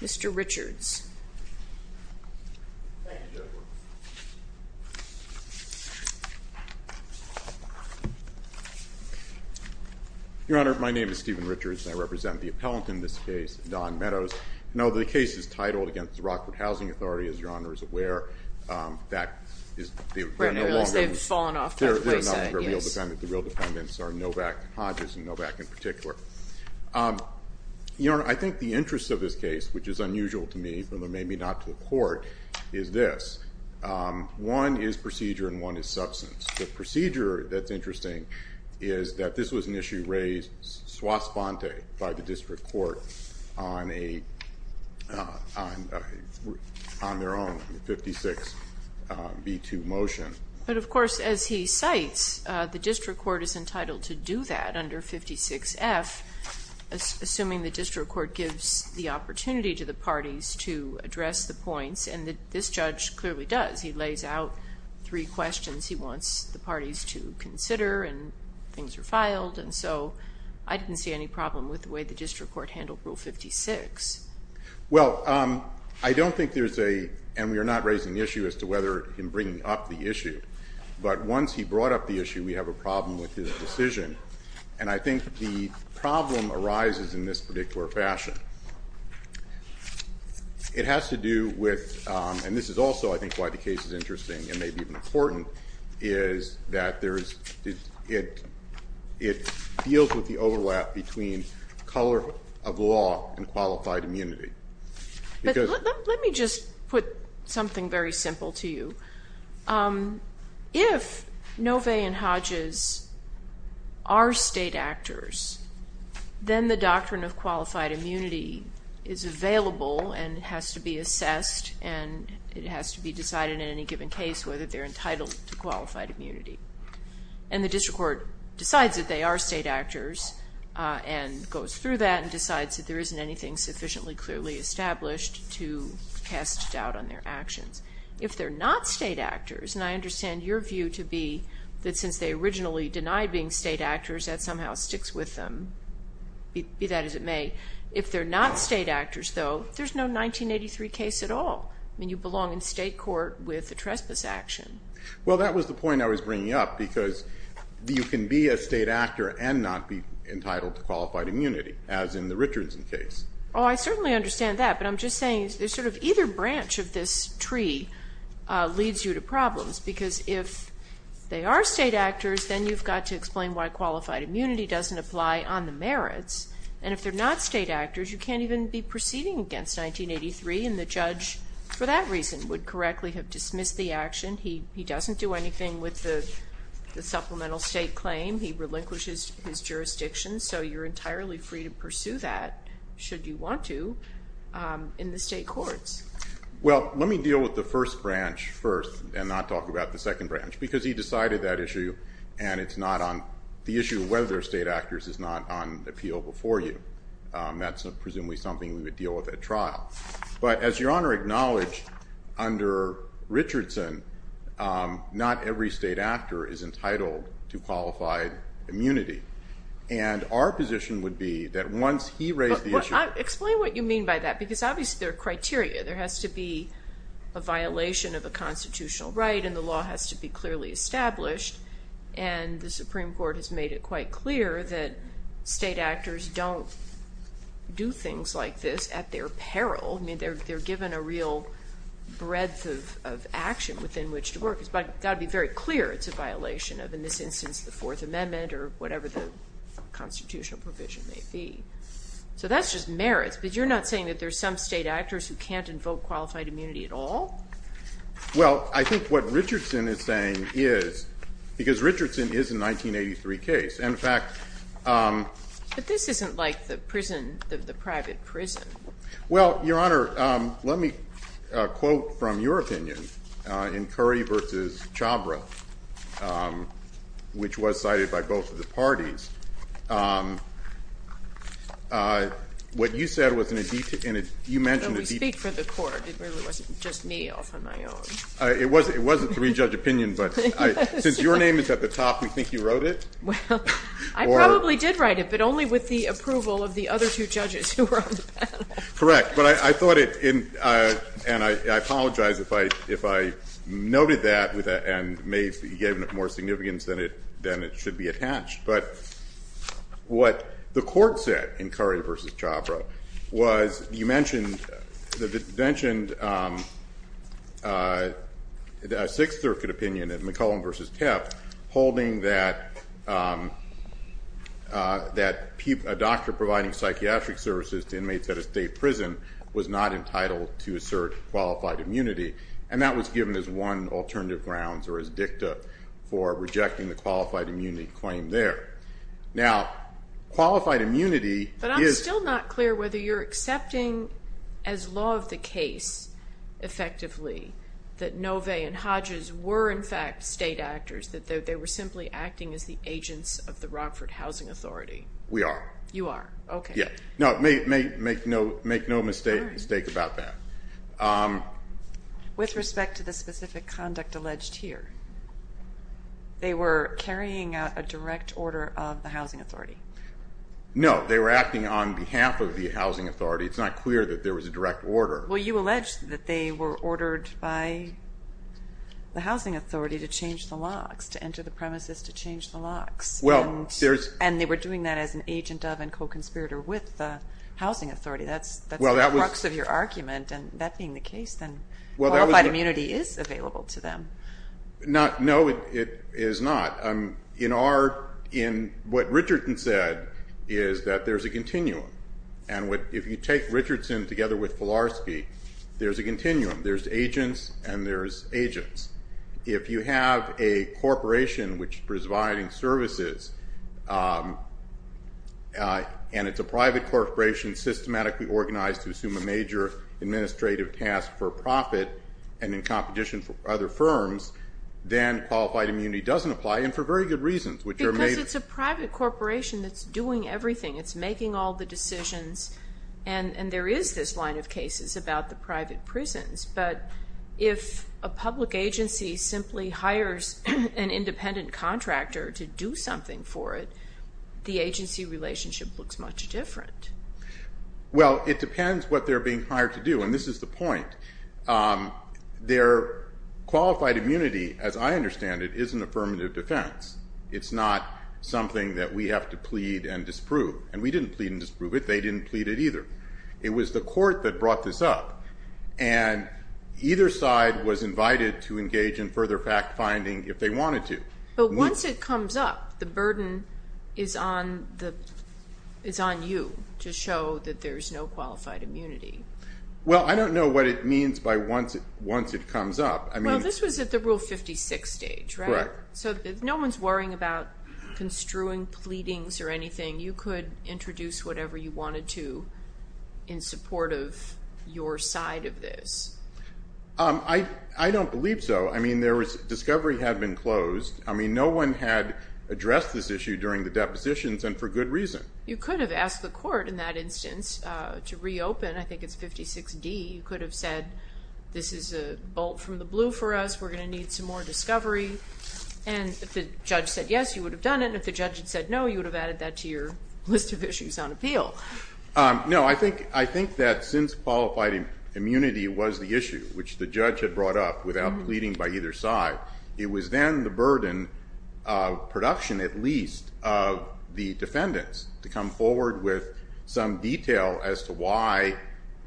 Mr. Richards. Thank you, Your Honor. Your Honor, my name is Stephen Richards, and I represent the appellant in this case, Don Meadows. I know the case is titled against the Rockford Housing Authority. As Your Honor is aware, that is no longer... Right, unless they've fallen off the wayside, yes. The real defendants are Novak and Hodges, and Novak in particular. Your Honor, I think the interest of this case, which is unusual to me, even though maybe not to the court, is this. One is procedure and one is substance. The procedure that's interesting is that this was an issue raised swastika by the district court on their own, the 56B2 motion. But, of course, as he cites, the district court is entitled to do that under 56F, assuming the district court gives the opportunity to the parties to address the points, and this judge clearly does. He lays out three questions he wants the parties to consider, and things are filed, and so I didn't see any problem with the way the district court handled Rule 56. Well, I don't think there's a, and we are not raising the issue as to whether him bringing up the issue, but once he brought up the issue, we have a problem with his decision, and I think the problem arises in this particular fashion. It has to do with, and this is also, I think, why the case is interesting and maybe even important, is that there is, it deals with the overlap between color of law and qualified immunity. Let me just put something very simple to you. If Nove and Hodges are state actors, then the doctrine of qualified immunity is available and has to be assessed and it has to be decided in any given case whether they're entitled to qualified immunity. And the district court decides that they are state actors and goes through that and decides that there isn't anything sufficiently clearly established to cast doubt on their actions. If they're not state actors, and I understand your view to be that since they originally denied being state actors, that somehow sticks with them, be that as it may. If they're not state actors, though, there's no 1983 case at all. I mean, you belong in state court with the trespass action. Well, that was the point I was bringing up because you can be a state actor and not be entitled to qualified immunity, as in the Richardson case. Oh, I certainly understand that, but I'm just saying there's sort of either branch of this tree leads you to problems because if they are state actors, then you've got to explain why qualified immunity doesn't apply on the merits, and if they're not state actors, you can't even be proceeding against 1983, and the judge, for that reason, would correctly have dismissed the action. He doesn't do anything with the supplemental state claim. He relinquishes his jurisdiction, so you're entirely free to pursue that, should you want to, in the state courts. Well, let me deal with the first branch first and not talk about the second branch because he decided that issue, and it's not on the issue of whether they're state actors is not on appeal before you. That's presumably something we would deal with at trial. But as Your Honor acknowledged, under Richardson, not every state actor is entitled to qualified immunity, and our position would be that once he raised the issue. Explain what you mean by that because obviously there are criteria. There has to be a violation of a constitutional right, and the law has to be clearly established, and the Supreme Court has made it quite clear that state actors don't do things like this at their peril. I mean, they're given a real breadth of action within which to work. It's got to be very clear it's a violation of, in this instance, the Fourth Amendment or whatever the constitutional provision may be. So that's just merits, but you're not saying that there's some state actors who can't invoke qualified immunity at all? Well, I think what Richardson is saying is, because Richardson is a 1983 case, in fact. But this isn't like the prison, the private prison. Well, Your Honor, let me quote from your opinion in Curry v. Chhabra, which was cited by both of the parties. What you said was in a detail, and you mentioned a detail. We speak for the court. It really wasn't just me off on my own. It was a three-judge opinion, but since your name is at the top, we think you wrote it. Well, I probably did write it, but only with the approval of the other two judges who were on the panel. Correct. But I thought it, and I apologize if I noted that and gave it more significance than it should be attached. But what the court said in Curry v. Chhabra was you mentioned a Sixth Circuit opinion in McClellan v. Teff, holding that a doctor providing psychiatric services to inmates at a state prison was not entitled to assert qualified immunity, and that was given as one alternative grounds or as dicta for rejecting the qualified immunity claim there. Now, qualified immunity is – But I'm still not clear whether you're accepting as law of the case, effectively, that Nove and Hodges were, in fact, state actors, that they were simply acting as the agents of the Rockford Housing Authority. We are. You are. Okay. Yeah. No, make no mistake about that. With respect to the specific conduct alleged here, they were carrying out a direct order of the Housing Authority. No, they were acting on behalf of the Housing Authority. It's not clear that there was a direct order. Well, you allege that they were ordered by the Housing Authority to change the locks, to enter the premises to change the locks. And they were doing that as an agent of and co-conspirator with the Housing Authority. That's the crux of your argument. And that being the case, then qualified immunity is available to them. No, it is not. What Richardson said is that there's a continuum. And if you take Richardson together with Filarski, there's a continuum. There's agents and there's agents. If you have a corporation which is providing services, and it's a private corporation systematically organized to assume a major administrative task for profit and in competition for other firms, then qualified immunity doesn't apply, and for very good reasons. Because it's a private corporation that's doing everything. It's making all the decisions. And there is this line of cases about the private prisons. But if a public agency simply hires an independent contractor to do something for it, the agency relationship looks much different. Well, it depends what they're being hired to do. And this is the point. Their qualified immunity, as I understand it, is an affirmative defense. It's not something that we have to plead and disprove. And we didn't plead and disprove it. They didn't plead it either. It was the court that brought this up. And either side was invited to engage in further fact-finding if they wanted to. But once it comes up, the burden is on you to show that there's no qualified immunity. Well, I don't know what it means by once it comes up. Well, this was at the Rule 56 stage, right? Correct. So no one's worrying about construing pleadings or anything. You could introduce whatever you wanted to in support of your side of this. I don't believe so. I mean, discovery had been closed. I mean, no one had addressed this issue during the depositions and for good reason. You could have asked the court in that instance to reopen. I think it's 56D. You could have said this is a bolt from the blue for us. We're going to need some more discovery. And if the judge said yes, you would have done it. And if the judge had said no, you would have added that to your list of issues on appeal. No, I think that since qualified immunity was the issue, which the judge had brought up without pleading by either side, it was then the burden of production, at least, of the defendants, to come forward with some detail as to why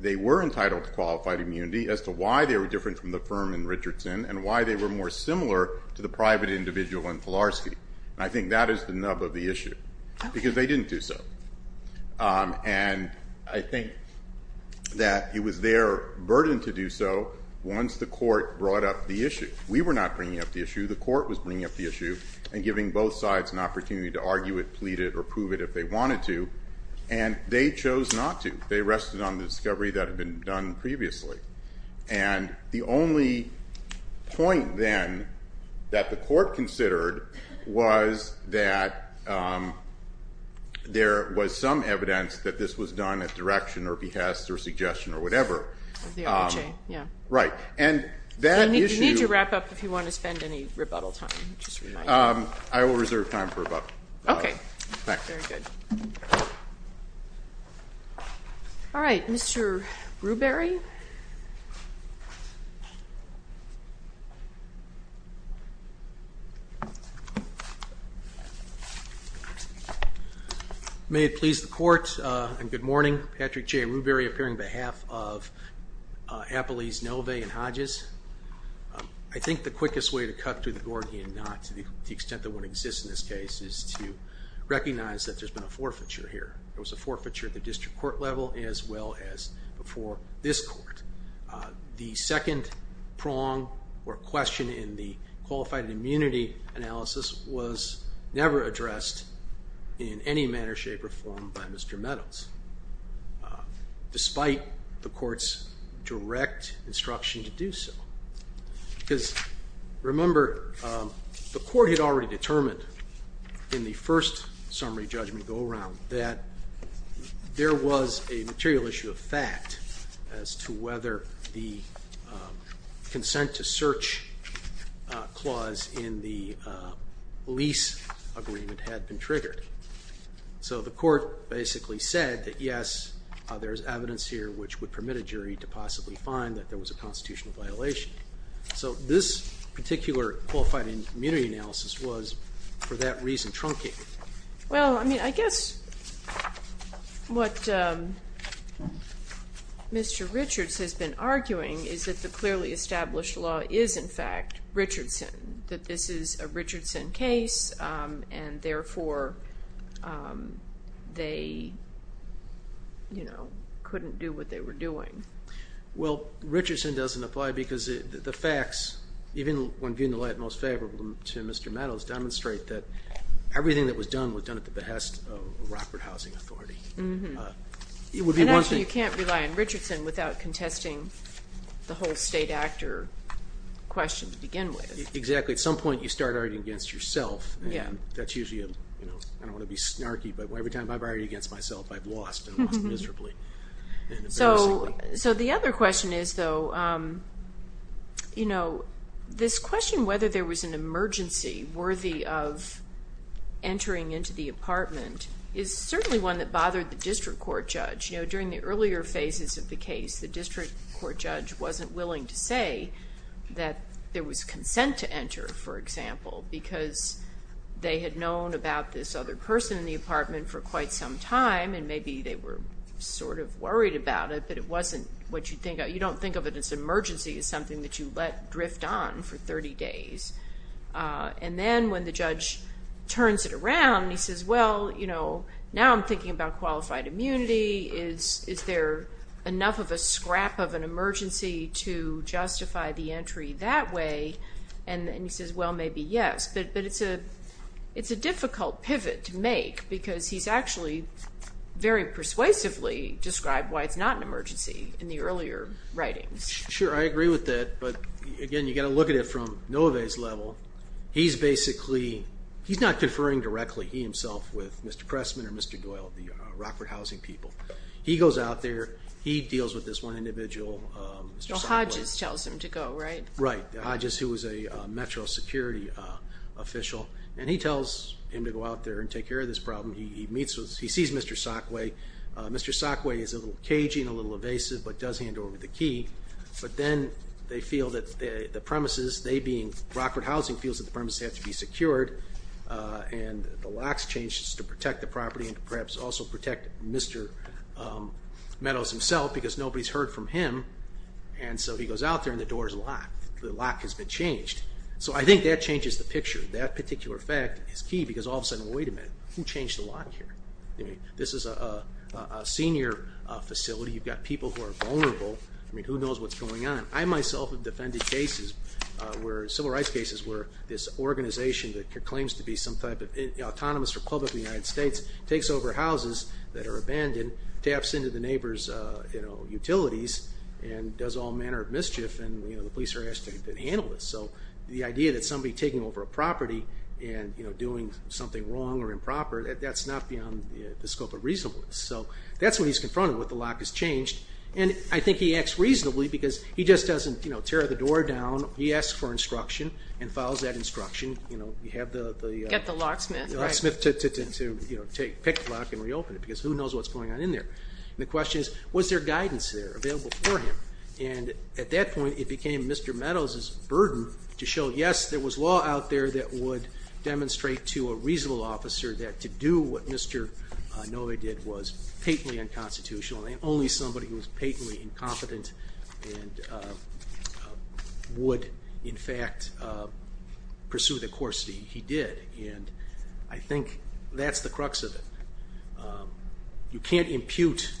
they were entitled to qualified immunity, as to why they were different from the firm in Richardson, and why they were more similar to the private individual in Pilarsky. And I think that is the nub of the issue because they didn't do so. And I think that it was their burden to do so once the court brought up the issue. We were not bringing up the issue. The court was bringing up the issue and giving both sides an opportunity to argue it, plead it, or prove it if they wanted to. And they chose not to. They rested on the discovery that had been done previously. And the only point, then, that the court considered was that there was some evidence that this was done at direction or behest or suggestion or whatever. Right. You need to wrap up if you want to spend any rebuttal time. I will reserve time for rebuttal. Okay. Thanks. Very good. All right. Mr. Rewbery. May it please the Court, and good morning. Patrick J. Rewbery, appearing on behalf of Appellees Nove and Hodges. I think the quickest way to cut through the Gordian Knot to the extent that one exists in this case is to recognize that there's been a forfeiture here. There was a forfeiture at the district court level as well as before this court. The second prong or question in the qualified immunity analysis was never addressed in any manner, shape, or form by Mr. Meadows, despite the court's direct instruction to do so. Because, remember, the court had already determined in the first summary judgment go around that there was a material issue of fact as to whether the consent to search clause in the lease agreement had been triggered. So the court basically said that, yes, there is evidence here which would permit a jury to possibly find that there was a constitutional violation. So this particular qualified immunity analysis was, for that reason, truncated. Well, I mean, I guess what Mr. Richards has been arguing is that the clearly established law is, in fact, Richardson, that this is a Richardson case, and therefore they couldn't do what they were doing. Well, Richardson doesn't apply because the facts, even when viewed in the light most favorable to Mr. Meadows, demonstrate that everything that was done was done at the behest of Rockford Housing Authority. And actually you can't rely on Richardson without contesting the whole state actor question to begin with. Exactly. At some point you start arguing against yourself, and that's usually a, you know, I don't want to be snarky, but every time I've argued against myself I've lost and lost miserably and embarrassingly. So the other question is, though, you know, this question whether there was an emergency worthy of entering into the apartment is certainly one that bothered the district court judge. You know, during the earlier phases of the case the district court judge wasn't willing to say that there was consent to enter, for example, because they had known about this other person in the apartment for quite some time, and maybe they were sort of worried about it, but it wasn't what you'd think. You don't think of it as an emergency. It's something that you let drift on for 30 days. And then when the judge turns it around and he says, well, you know, now I'm thinking about qualified immunity. Is there enough of a scrap of an emergency to justify the entry that way? And he says, well, maybe yes. But it's a difficult pivot to make, because he's actually very persuasively described why it's not an emergency in the earlier writings. Sure, I agree with that. But, again, you've got to look at it from Nove's level. He's basically, he's not deferring directly, he himself, with Mr. Pressman or Mr. Doyle, the Rockford housing people. He goes out there. He deals with this one individual. Well, Hodges tells him to go, right? Right, Hodges, who was a metro security official. And he tells him to go out there and take care of this problem. He meets with, he sees Mr. Sockway. Mr. Sockway is a little cagey and a little evasive, but does handle it with a key. But then they feel that the premises, they being Rockford housing, feels that the premises have to be secured. And the locks changed to protect the property and perhaps also protect Mr. Meadows himself, because nobody's heard from him. And so he goes out there and the door is locked. The lock has been changed. So I think that changes the picture. That particular fact is key, because all of a sudden, wait a minute, who changed the lock here? I mean, this is a senior facility. You've got people who are vulnerable. I mean, who knows what's going on? I myself have defended cases where, civil rights cases, where this organization that claims to be some type of autonomous republic of the United States takes over houses that are abandoned, taps into the neighbors' utilities, and does all manner of mischief, and the police are asked to handle this. So the idea that somebody taking over a property and doing something wrong or improper, that's not beyond the scope of reasonableness. So that's what he's confronted with. The lock has changed. And I think he acts reasonably, because he just doesn't tear the door down. He asks for instruction and follows that instruction. Get the locksmith. The locksmith to pick the lock and reopen it, because who knows what's going on in there? And the question is, was there guidance there available for him? And at that point, it became Mr. Meadows' burden to show, yes, there was law out there that would demonstrate to a reasonable officer that to do what Mr. Novy did was patently unconstitutional, and only somebody who was patently incompetent and would, in fact, pursue the course he did. And I think that's the crux of it. You can't impute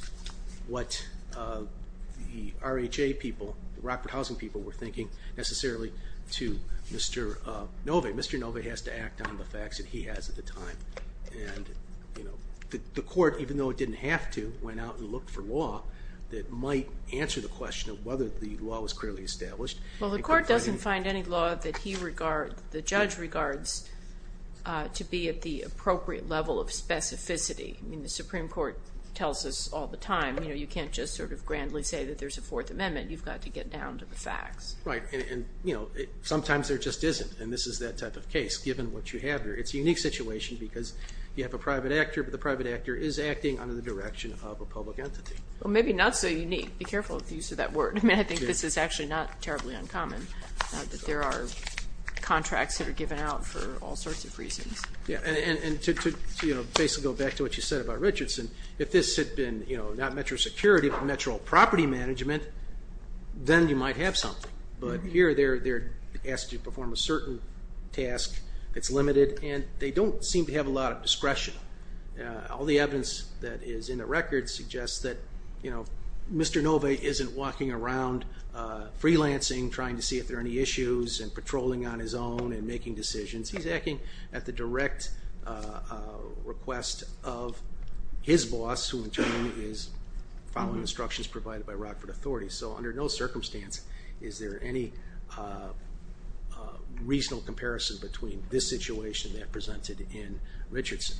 what the RHA people, the Rockford Housing people, were thinking necessarily to Mr. Novy. Mr. Novy has to act on the facts that he has at the time. And the court, even though it didn't have to, went out and looked for law that might answer the question of whether the law was clearly established. Well, the court doesn't find any law that the judge regards to be at the appropriate level of specificity. I mean, the Supreme Court tells us all the time, you can't just sort of grandly say that there's a Fourth Amendment. You've got to get down to the facts. Right, and sometimes there just isn't, and this is that type of case, given what you have here. It's a unique situation because you have a private actor, but the private actor is acting under the direction of a public entity. Well, maybe not so unique. Be careful of the use of that word. I mean, I think this is actually not terribly uncommon, that there are contracts that are given out for all sorts of reasons. Yeah, and to basically go back to what you said about Richardson, if this had been not metro security but metro property management, then you might have something. But here they're asked to perform a certain task that's limited, and they don't seem to have a lot of discretion. All the evidence that is in the record suggests that Mr. Nove isn't walking around freelancing, trying to see if there are any issues, and patrolling on his own and making decisions. He's acting at the direct request of his boss, who in turn is following instructions provided by Rockford authorities. So under no circumstance is there any reasonable comparison between this situation and that presented in Richardson.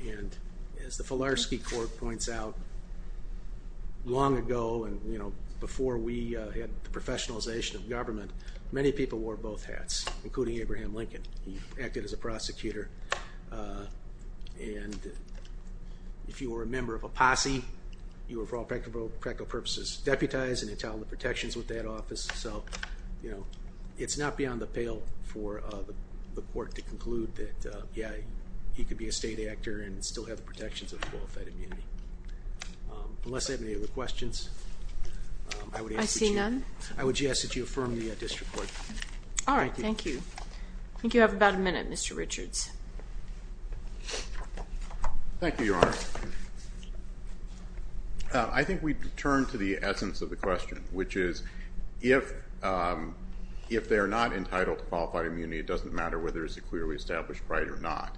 And as the Filarski Court points out, long ago and before we had the professionalization of government, many people wore both hats, including Abraham Lincoln. He acted as a prosecutor. And if you were a member of a posse, you were for all practical purposes deputized and entitled to protections with that office. So, you know, it's not beyond the pale for the court to conclude that, yeah, he could be a state actor and still have the protections of qualified immunity. Unless I have any other questions, I would ask that you affirm the district court. All right, thank you. Thank you. I think you have about a minute, Mr. Richards. Thank you, Your Honor. I think we turn to the essence of the question, which is if they are not entitled to qualified immunity, it doesn't matter whether it's a clearly established right or not.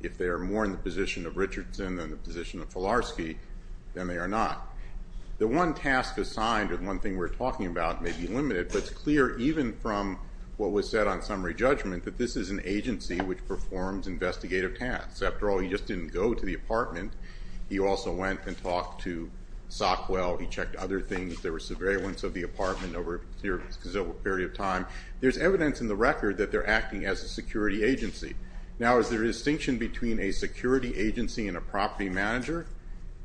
If they are more in the position of Richardson than the position of Filarski, then they are not. The one task assigned or the one thing we're talking about may be limited, but it's clear even from what was said on summary judgment that this is an agency which performs investigative tasks. After all, he just didn't go to the apartment. He also went and talked to Sockwell. He checked other things. There was surveillance of the apartment over a period of time. There's evidence in the record that they're acting as a security agency. Now, is there a distinction between a security agency and a property manager?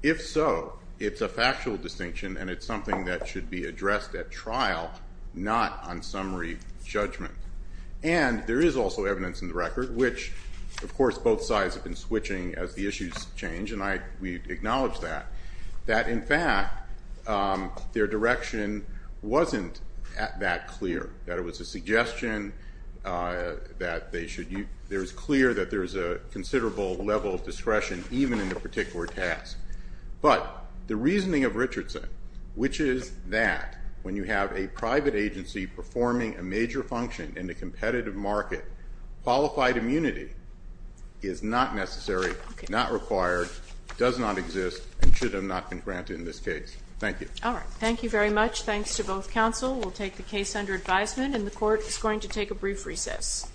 If so, it's a factual distinction, and it's something that should be addressed at trial, not on summary judgment. And there is also evidence in the record, which, of course, both sides have been switching as the issues change, and we acknowledge that, that, in fact, their direction wasn't that clear, that it was a suggestion that they should use. There is clear that there is a considerable level of discretion even in a particular task. But the reasoning of Richardson, which is that when you have a private agency performing a major function in a competitive market, qualified immunity is not necessary, not required, does not exist, and should have not been granted in this case. Thank you. All right. Thank you very much. Thanks to both counsel. We'll take the case under advisement, and the court is going to take a brief recess.